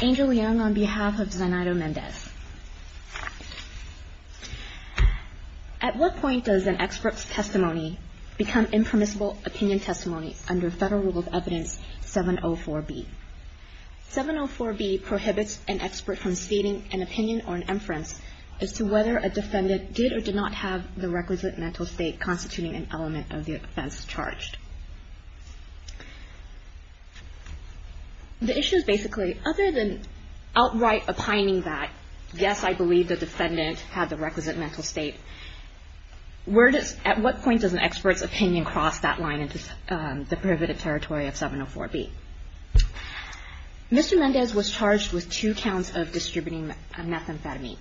Angel Young on behalf of Zainado Mendez At what point does an expert's testimony become impermissible opinion testimony under Federal Rule of Evidence 704B? 704B prohibits an expert from stating an opinion or inference as to whether a defendant did or did not have the requisite mental state constituting an element of the offense charged. The issue is basically, other than outright opining that, yes, I believe the defendant had the requisite mental state, at what point does an expert's opinion cross that line into the prohibited territory of 704B? Mr. Mendez was charged with two counts of distributing a methamphetamine.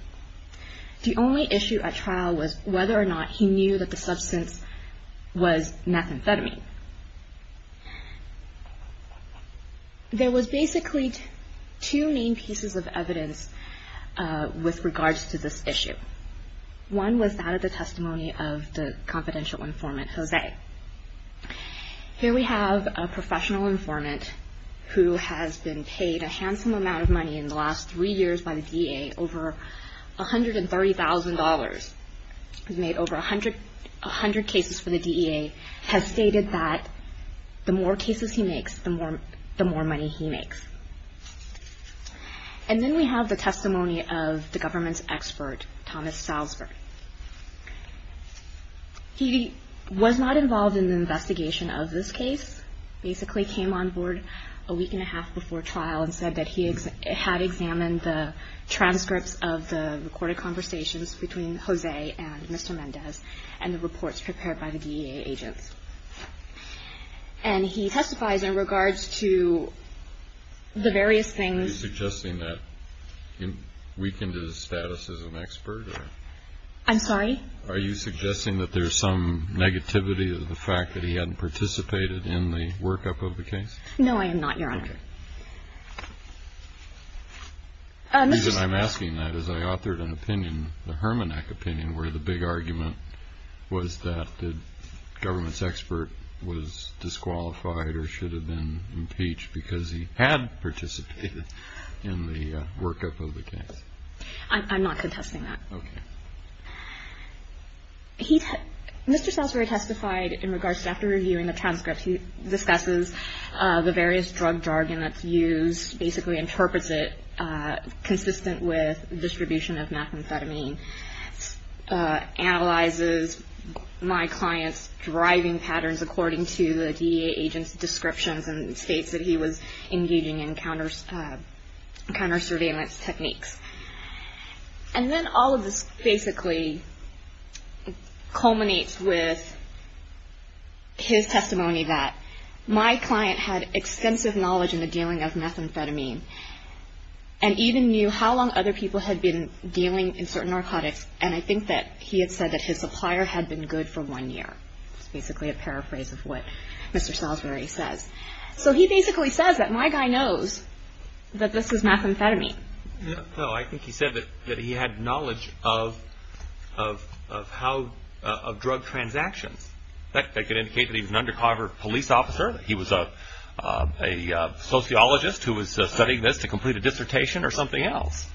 The only issue at trial was whether or not he knew that the substance was methamphetamine. There was basically two main pieces of evidence with regards to this issue. One was that of the testimony of the confidential informant, Jose. Here we have a professional informant who has been paid a handsome amount of money in the last three years by the DEA, over $130,000, has made over 100 cases for the DEA, has stated that the more cases he makes, the more money he makes. And then we have the testimony of the government's expert, Thomas Salzberg. He was not involved in the investigation of this case, basically came on board a week and a half before trial and said that he had examined the transcripts of the recorded conversations between Jose and Mr. Mendez and the reports prepared by the DEA agents. And he testifies in regards to the various things. Are you suggesting that he weakened his status as an expert? I'm sorry? Are you suggesting that there's some negativity of the fact that he hadn't participated in the workup of the case? No, I am not, Your Honor. Okay. The reason I'm asking that is I authored an opinion, a hermeneutic opinion, where the big argument was that the government's expert was disqualified or should have been impeached because he had participated in the workup of the case. I'm not contesting that. Okay. Mr. Salzberg testified in regards to after reviewing the transcripts, he discusses the various drug jargon that's used, basically interprets it consistent with distribution of methamphetamine, analyzes my client's driving patterns according to the DEA agent's descriptions and states that he was engaging in counter surveillance techniques. And then all of this basically culminates with his testimony that my client had extensive knowledge in the dealing of methamphetamine and even knew how long other people had been dealing in certain narcotics and I think that he had said that his supplier had been good for one year. It's basically a paraphrase of what Mr. Salzberg says. So he basically says that my guy knows that this is methamphetamine. No, I think he said that he had knowledge of drug transactions. That could indicate that he was an undercover police officer, that he was a sociologist who was studying this to complete a dissertation or something else.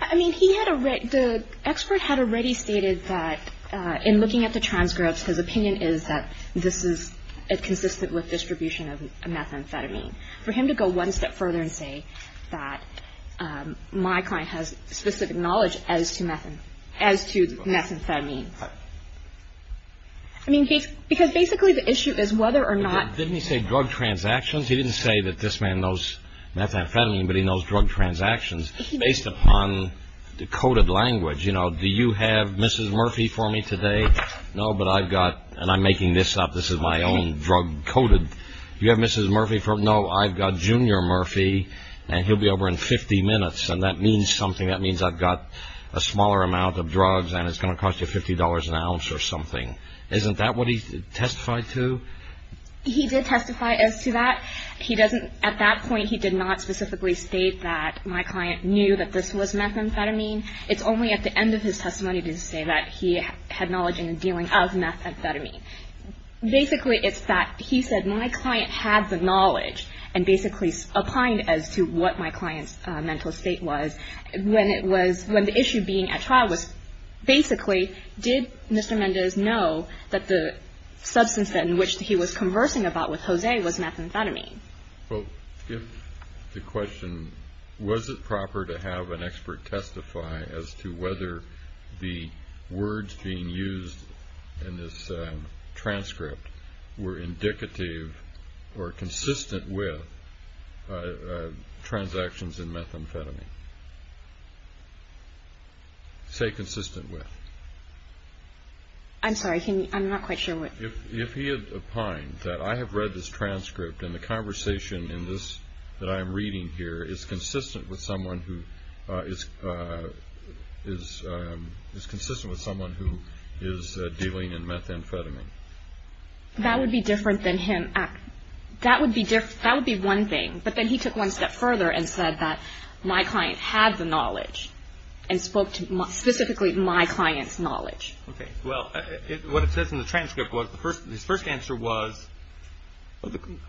I mean, the expert had already stated that in looking at the transcripts, his opinion is that this is consistent with distribution of methamphetamine. For him to go one step further and say that my client has specific knowledge as to methamphetamine. I mean, because basically the issue is whether or not... Didn't he say drug transactions? He didn't say that this man knows methamphetamine, but he knows drug transactions. Based upon the coded language, you know, do you have Mrs. Murphy for me today? No, but I've got, and I'm making this up, this is my own drug coded. Do you have Mrs. Murphy for me? No, I've got Junior Murphy and he'll be over in 50 minutes and that means something. You know, you've got a lot of drugs and it's going to cost you $50 an ounce or something. Isn't that what he testified to? He did testify as to that. At that point, he did not specifically state that my client knew that this was methamphetamine. It's only at the end of his testimony did he say that he had knowledge in the dealing of methamphetamine. Basically, it's that he said my client had the knowledge and basically opined as to what my client's mental state was. When the issue being at trial was basically, did Mr. Mendez know that the substance in which he was conversing about with Jose was methamphetamine? Well, if the question, was it proper to have an expert testify as to whether the words being used in this transcript were indicative or consistent with transactions in methamphetamine? Say consistent with. I'm sorry, I'm not quite sure what... If he had opined that I have read this transcript and the conversation in this, that I am reading here is consistent with someone who is dealing in methamphetamine. That would be different than him. That would be one thing. But then he took one step further and said that my client had the knowledge and spoke to specifically my client's knowledge. Well, what it says in the transcript was, his first answer was...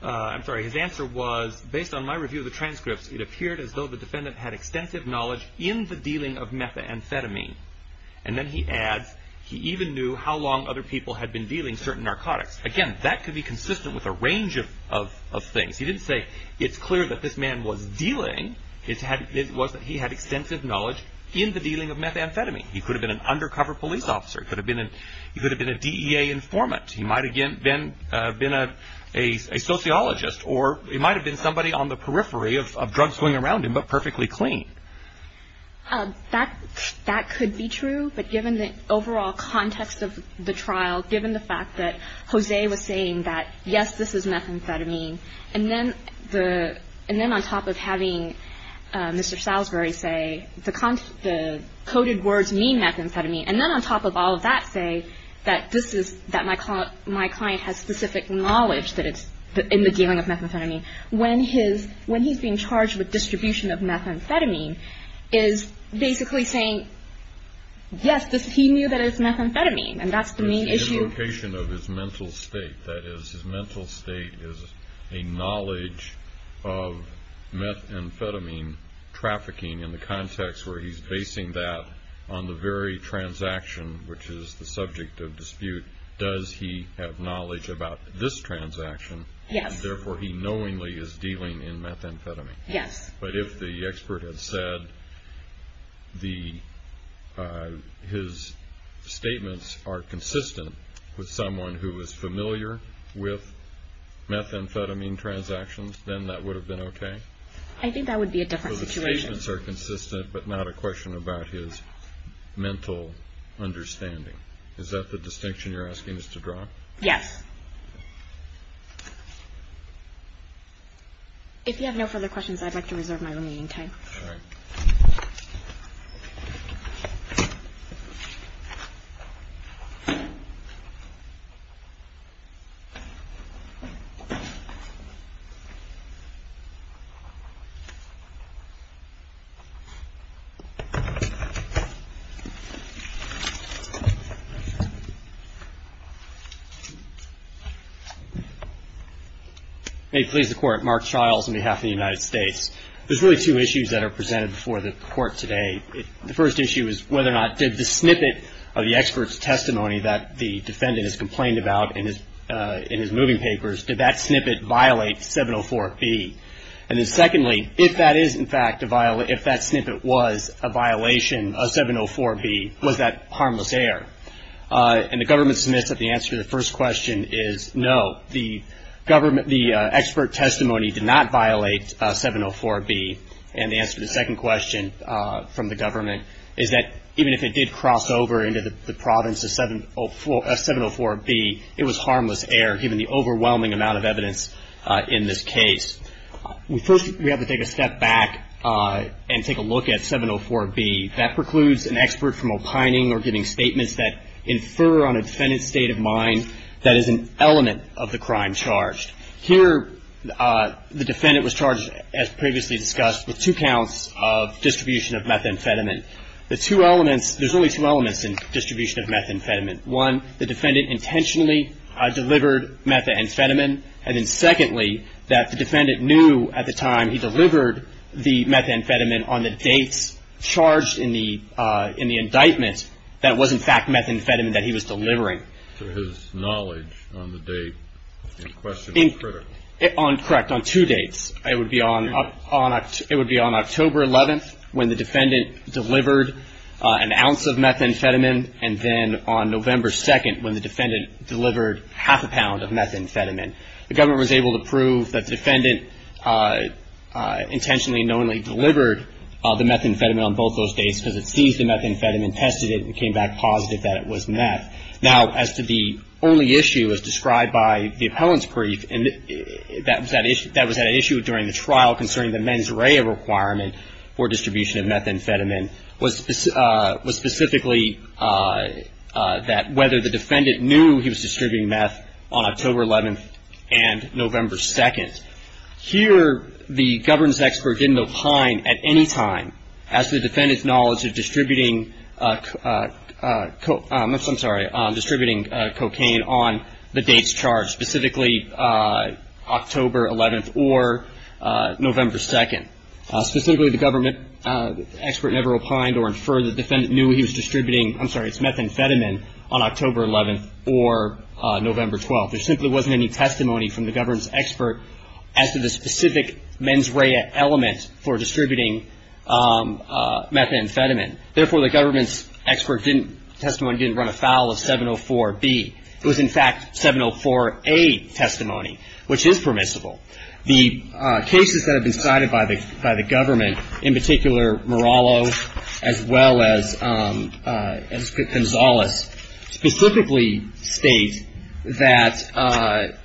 I'm sorry, his answer was, based on my review of the transcripts, it appeared as though the defendant had extensive knowledge in the dealing of methamphetamine. And then he adds, he even knew how long other people had been dealing certain narcotics. Again, that could be consistent with a range of things. He didn't say, it's clear that this man was dealing. It was that he had extensive knowledge in the dealing of methamphetamine. He could have been an undercover police officer. He could have been a DEA informant. He might have been a sociologist. Or he might have been somebody on the periphery of drugs going around him, but perfectly clean. That could be true, but given the overall context of the trial, given the fact that Jose was saying that, yes, this is methamphetamine, and then on top of having Mr. Salisbury say, the coded words mean methamphetamine, and then on top of all of that say that my client has specific knowledge in the dealing of methamphetamine, when he's being charged with distribution of methamphetamine, is basically saying, yes, he knew that it was methamphetamine, and that's the main issue. The location of his mental state, that is, his mental state is a knowledge of methamphetamine trafficking in the context where he's basing that on the very transaction which is the subject of dispute. Does he have knowledge about this transaction? Yes. Therefore, he knowingly is dealing in methamphetamine. Yes. But if the expert had said his statements are consistent with someone who is familiar with methamphetamine transactions, then that would have been okay? I think that would be a different situation. So the statements are consistent, but not a question about his mental understanding. Is that the distinction you're asking us to draw? Yes. If you have no further questions, I'd like to reserve my remaining time. Sure. May it please the Court. Mark Chiles on behalf of the United States. There's really two issues that are presented before the Court today. The first issue is whether or not did the snippet of the expert's testimony that the defendant has complained about in his moving papers, did that snippet violate 704B? And then secondly, if that is, in fact, if that snippet was a violation of 704B, was that harmless error? And the government submits that the answer to the first question is no. The government, the expert testimony did not violate 704B. And the answer to the second question from the government is that even if it did cross over into the province of 704B, it was harmless error given the overwhelming amount of evidence in this case. First, we have to take a step back and take a look at 704B. That precludes an expert from opining or giving statements that infer on a defendant's state of mind that is an element of the crime charged. Here, the defendant was charged, as previously discussed, with two counts of distribution of methamphetamine. The two elements, there's really two elements in distribution of methamphetamine. One, the defendant intentionally delivered methamphetamine. And then secondly, that the defendant knew at the time he delivered the methamphetamine on the dates charged in the indictment that it was, in fact, methamphetamine that he was delivering. So his knowledge on the date in question is critical. Correct. On two dates. It would be on October 11th when the defendant delivered an ounce of methamphetamine, and then on November 2nd when the defendant delivered half a pound of methamphetamine. The government was able to prove that the defendant intentionally and knowingly delivered the methamphetamine on both those dates because it seized the methamphetamine, tested it, and came back positive that it was meth. Now, as to the only issue as described by the appellant's brief, and that was at issue during the trial concerning the mens rea requirement for distribution of methamphetamine, was specifically that whether the defendant knew he was distributing meth on October 11th and November 2nd. Here, the governance expert didn't opine at any time as to the defendant's knowledge of distributing cocaine on the dates charged, specifically October 11th or November 2nd. Specifically, the government expert never opined or inferred the defendant knew he was distributing, I'm sorry, it's methamphetamine on October 11th or November 12th. There simply wasn't any testimony from the governance expert as to the specific mens rea element for distributing methamphetamine. Therefore, the government's expert didn't, testimony didn't run afoul of 704B. It was, in fact, 704A testimony, which is permissible. The cases that have been cited by the government, in particular Morallo as well as Gonzales, specifically state that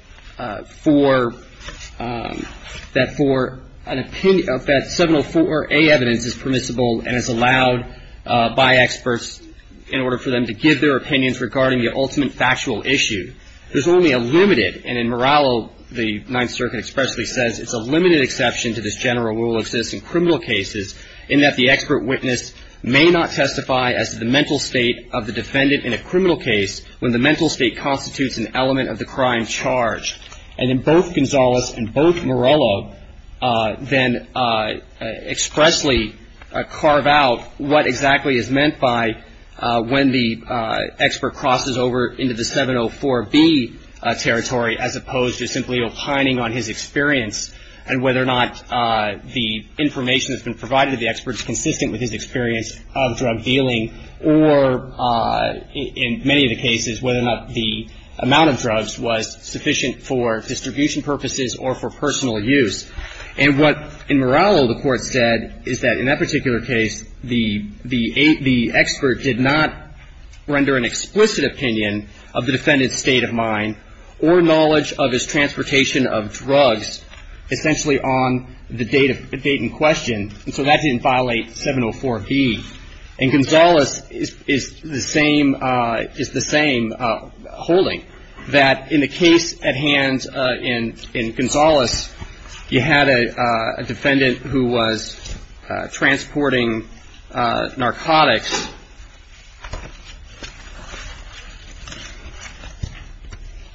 for an opinion, that 704A evidence is permissible and is allowed by experts in order for them to give their opinions regarding the ultimate factual issue. There's only a limited, and in Morallo, the Ninth Circuit expressly says, it's a limited exception to this general rule that exists in criminal cases, in that the expert witness may not testify as to the mental state of the defendant in a criminal case when the mental state constitutes an element of the crime charged. And in both Gonzales and both Morallo then expressly carve out what exactly is meant by when the expert crosses over into the 704B territory as opposed to simply opining on his experience and whether or not the information that's been provided to the expert is consistent with his experience of drug dealing or in many of the cases whether or not the amount of drugs was sufficient for distribution purposes or for personal use. And what in Morallo the Court said is that in that particular case, the expert did not render an explicit opinion of the defendant's state of mind or knowledge of his transportation of drugs essentially on the date in question. And so that didn't violate 704B. And Gonzales is the same holding, that in the case at hand in Gonzales, you had a defendant who was transporting narcotics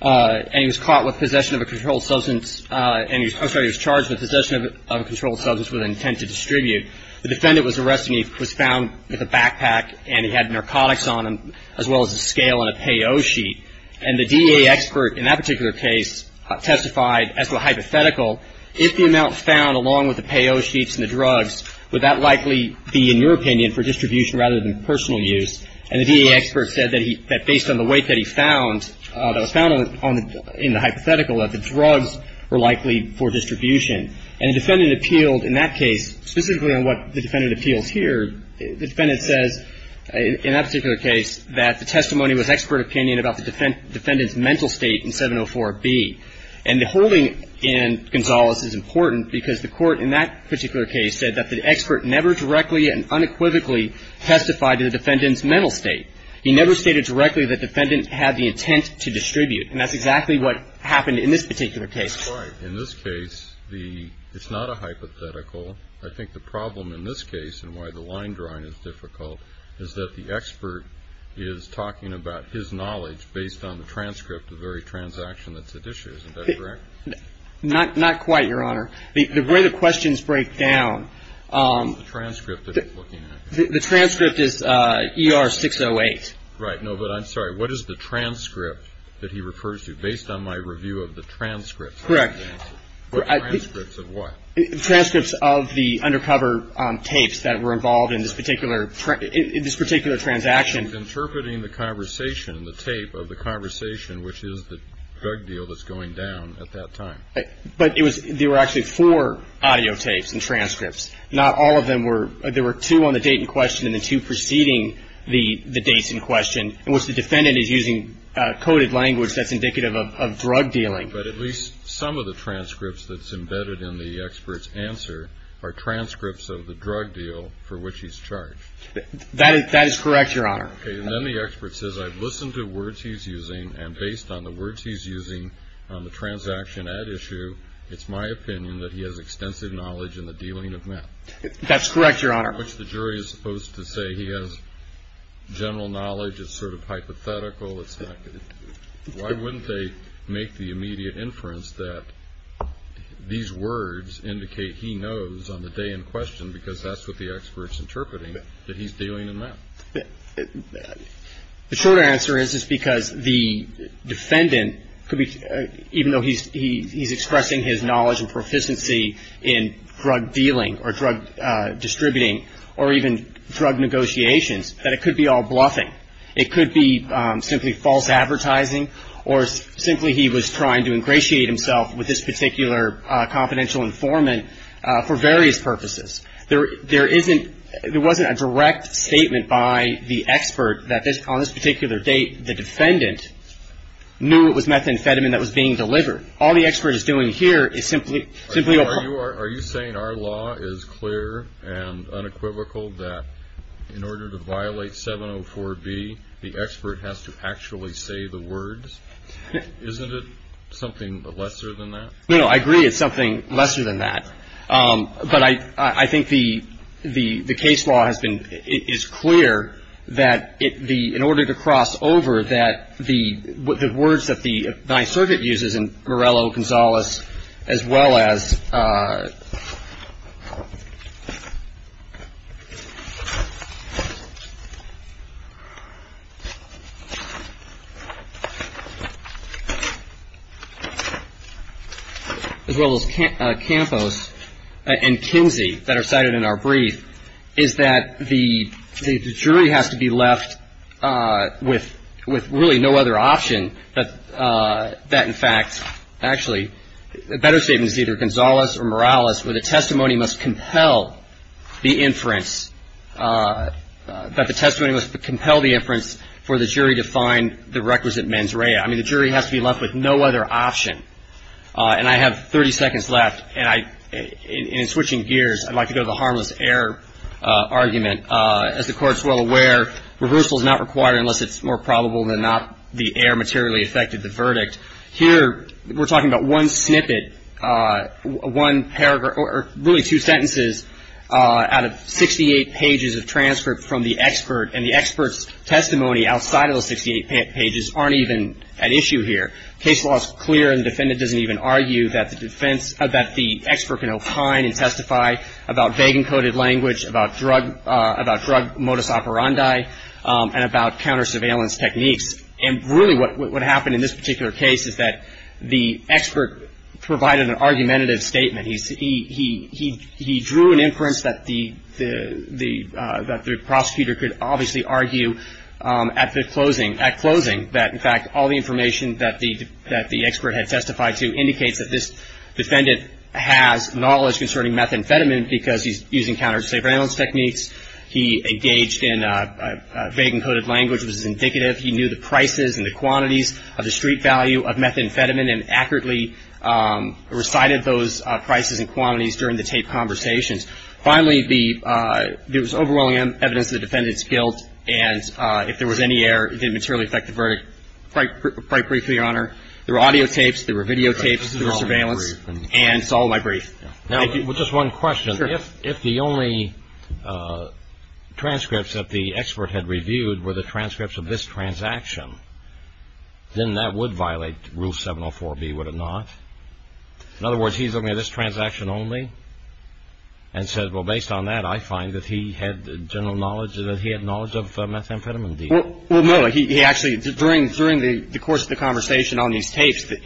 and he was caught with possession of a controlled substance and he was charged with possession of a controlled substance with intent to distribute. The defendant was arrested and he was found with a backpack and he had narcotics on him as well as a scale and a payo sheet. And the DA expert in that particular case testified as a hypothetical, if the amount found along with the payo sheets and the drugs, would that likely be, in your opinion, for distribution rather than personal use? And the DA expert said that based on the weight that he found, that was found in the hypothetical, that the drugs were likely for distribution. And the defendant appealed in that case specifically on what the defendant appeals here. The defendant says in that particular case that the testimony was expert opinion about the defendant's mental state in 704B. And the holding in Gonzales is important because the Court in that particular case said that the expert never directly and unequivocally testified to the defendant's mental state. He never stated directly that the defendant had the intent to distribute. And that's exactly what happened in this particular case. That's right. In this case, it's not a hypothetical. I think the problem in this case, and why the line drawing is difficult, is that the expert is talking about his knowledge based on the transcript, the very transaction that's at issue. Isn't that correct? Not quite, Your Honor. The way the questions break down. The transcript that he's looking at. The transcript is ER 608. Right. No, but I'm sorry. What is the transcript that he refers to? Based on my review of the transcripts. Correct. The transcripts of what? Transcripts of the undercover tapes that were involved in this particular transaction. He was interpreting the conversation, the tape of the conversation, which is the drug deal that's going down at that time. But it was – there were actually four audio tapes and transcripts. Not all of them were – there were two on the date in question and the two preceding the dates in question, in which the defendant is using coded language that's indicative of drug dealing. But at least some of the transcripts that's embedded in the expert's answer are transcripts of the drug deal for which he's charged. That is correct, Your Honor. Okay. And then the expert says, I've listened to words he's using and based on the words he's using on the transaction at issue, it's my opinion that he has extensive knowledge in the dealing of meth. That's correct, Your Honor. Which the jury is supposed to say he has general knowledge. It's sort of hypothetical. Why wouldn't they make the immediate inference that these words indicate he knows on the day in question because that's what the expert's interpreting, that he's dealing in meth? The short answer is it's because the defendant could be – even though he's expressing his knowledge and proficiency in drug dealing or drug distributing or even drug negotiations, that it could be all bluffing. It could be simply false advertising or simply he was trying to ingratiate himself with this particular confidential informant for various purposes. There isn't – there wasn't a direct statement by the expert that on this particular date, the defendant knew it was methamphetamine that was being delivered. All the expert is doing here is simply – the expert has to actually say the words? Isn't it something lesser than that? No, I agree it's something lesser than that. But I think the case law has been – in order to cross over that the words that the vice-surgeant uses in Morello, Gonzalez, as well as – as well as Campos and Kinsey that are cited in our brief, is that the jury has to be left with really no other option that in fact – actually, a better statement is either Gonzalez or Morales, where the testimony must compel the inference – that the testimony must compel the inference for the jury to find the requisite mens rea. I mean, the jury has to be left with no other option. And I have 30 seconds left, and I – in switching gears, I'd like to go to the harmless error argument. As the Court is well aware, reversal is not required unless it's more probable than not the error materially affected the verdict. Here, we're talking about one snippet, one paragraph – or really two sentences out of 68 pages of transcript from the expert, and the expert's testimony outside of those 68 pages aren't even an issue here. Case law is clear, and the defendant doesn't even argue that the defense – that the expert can opine and testify about vague encoded language, about drug modus operandi, and about counter-surveillance techniques. And really what happened in this particular case is that the expert provided an argumentative statement. He drew an inference that the prosecutor could obviously argue at the closing – at closing that, in fact, all the information that the expert had testified to indicates that this defendant has knowledge concerning methamphetamine because he's using counter-surveillance techniques. He engaged in vague encoded language that was indicative. He knew the prices and the quantities of the street value of methamphetamine and accurately recited those prices and quantities during the taped conversations. Finally, there was overwhelming evidence that the defendant is guilt, and if there was any error, it didn't materially affect the verdict. Quite briefly, Your Honor, there were audio tapes. There were video tapes. There was surveillance. And it's all in my brief. Thank you. Well, just one question. Sure. If the only transcripts that the expert had reviewed were the transcripts of this transaction, then that would violate Rule 704B, would it not? In other words, he's looking at this transaction only and said, Well, based on that, I find that he had general knowledge, that he had knowledge of methamphetamine deal. Well, no. He actually, during the course of the conversation on these tapes, the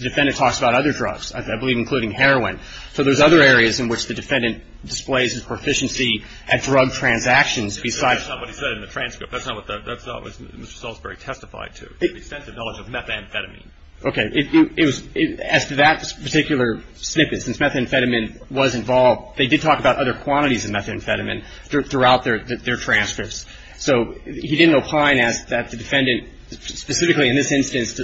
defendant talks about other drugs, I believe, including heroin. So there's other areas in which the defendant displays his proficiency at drug transactions besides That's not what he said in the transcript. That's not what Mr. Salisbury testified to, the extensive knowledge of methamphetamine. Okay. As to that particular snippet, since methamphetamine was involved, they did talk about other quantities of methamphetamine throughout their transcripts. So he didn't opine that the defendant, specifically in this instance,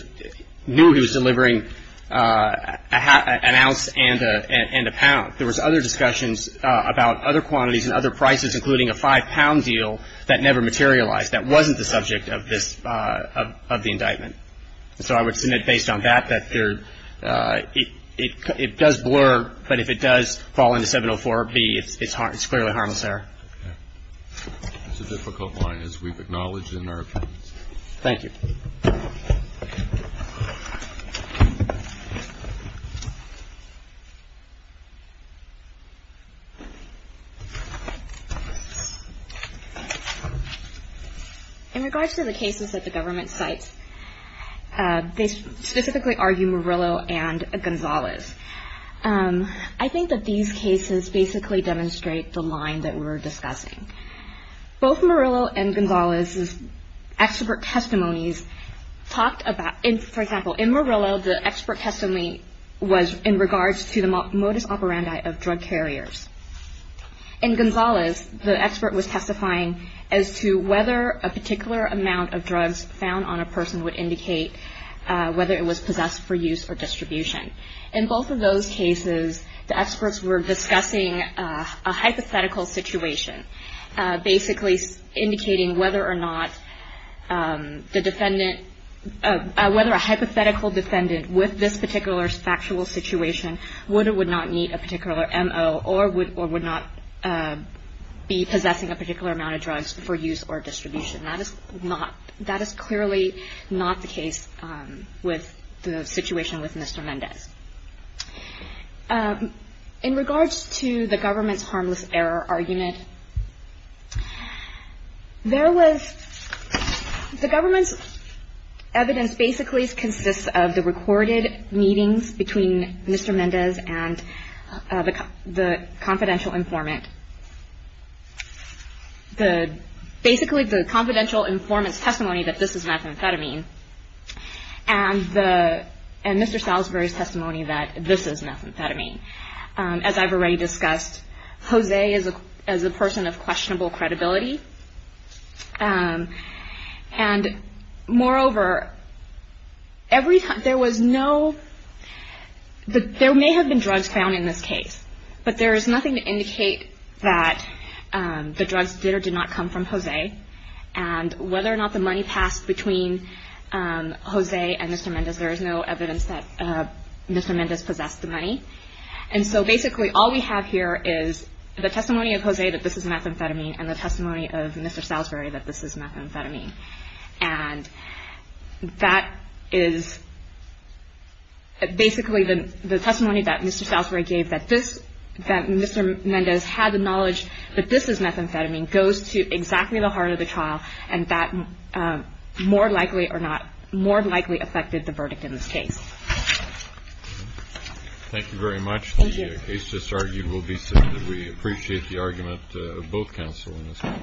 knew he was delivering an ounce and a pound. There was other discussions about other quantities and other prices, including a five-pound deal that never materialized, that wasn't the subject of this, of the indictment. So I would submit, based on that, that it does blur. But if it does fall into 704B, it's clearly harmless there. That's a difficult line, as we've acknowledged in our opinions. Thank you. In regards to the cases that the government cites, they specifically argue Murillo and Gonzalez. I think that these cases basically demonstrate the line that we're discussing. Both Murillo and Gonzalez's expert testimonies talked about — for example, in Murillo, the expert testimony was in regards to the modus operandi of drug carriers. In Gonzalez, the expert was testifying as to whether a particular amount of drugs found on a person would indicate whether it was possessed for use or distribution. In both of those cases, the experts were discussing a hypothetical situation, basically indicating whether or not the defendant — whether a hypothetical defendant with this particular factual situation would or would not need a particular M.O. or would not be possessing a particular amount of drugs for use or distribution. That is not — that is clearly not the case with the situation with Mr. Mendez. In regards to the government's harmless error argument, there was — the government's evidence basically consists of the recorded meetings between Mr. Mendez and the confidential informant. Basically, the confidential informant's testimony that this is methamphetamine and Mr. Salisbury's testimony that this is methamphetamine. As I've already discussed, Jose is a person of questionable credibility. And moreover, every time — there was no — there may have been drugs found in this case, but there is nothing to indicate that the drugs did or did not come from Jose and whether or not the money passed between Jose and Mr. Mendez. There is no evidence that Mr. Mendez possessed the money. And so basically all we have here is the testimony of Jose that this is methamphetamine and the testimony of Mr. Salisbury that this is methamphetamine. And that is basically the testimony that Mr. Salisbury gave, that this — that Mr. Mendez had the knowledge that this is methamphetamine goes to exactly the heart of the trial, and that more likely or not more likely affected the verdict in this case. Thank you very much. Thank you. The case just argued will be submitted. We appreciate the argument of both counsel in this one.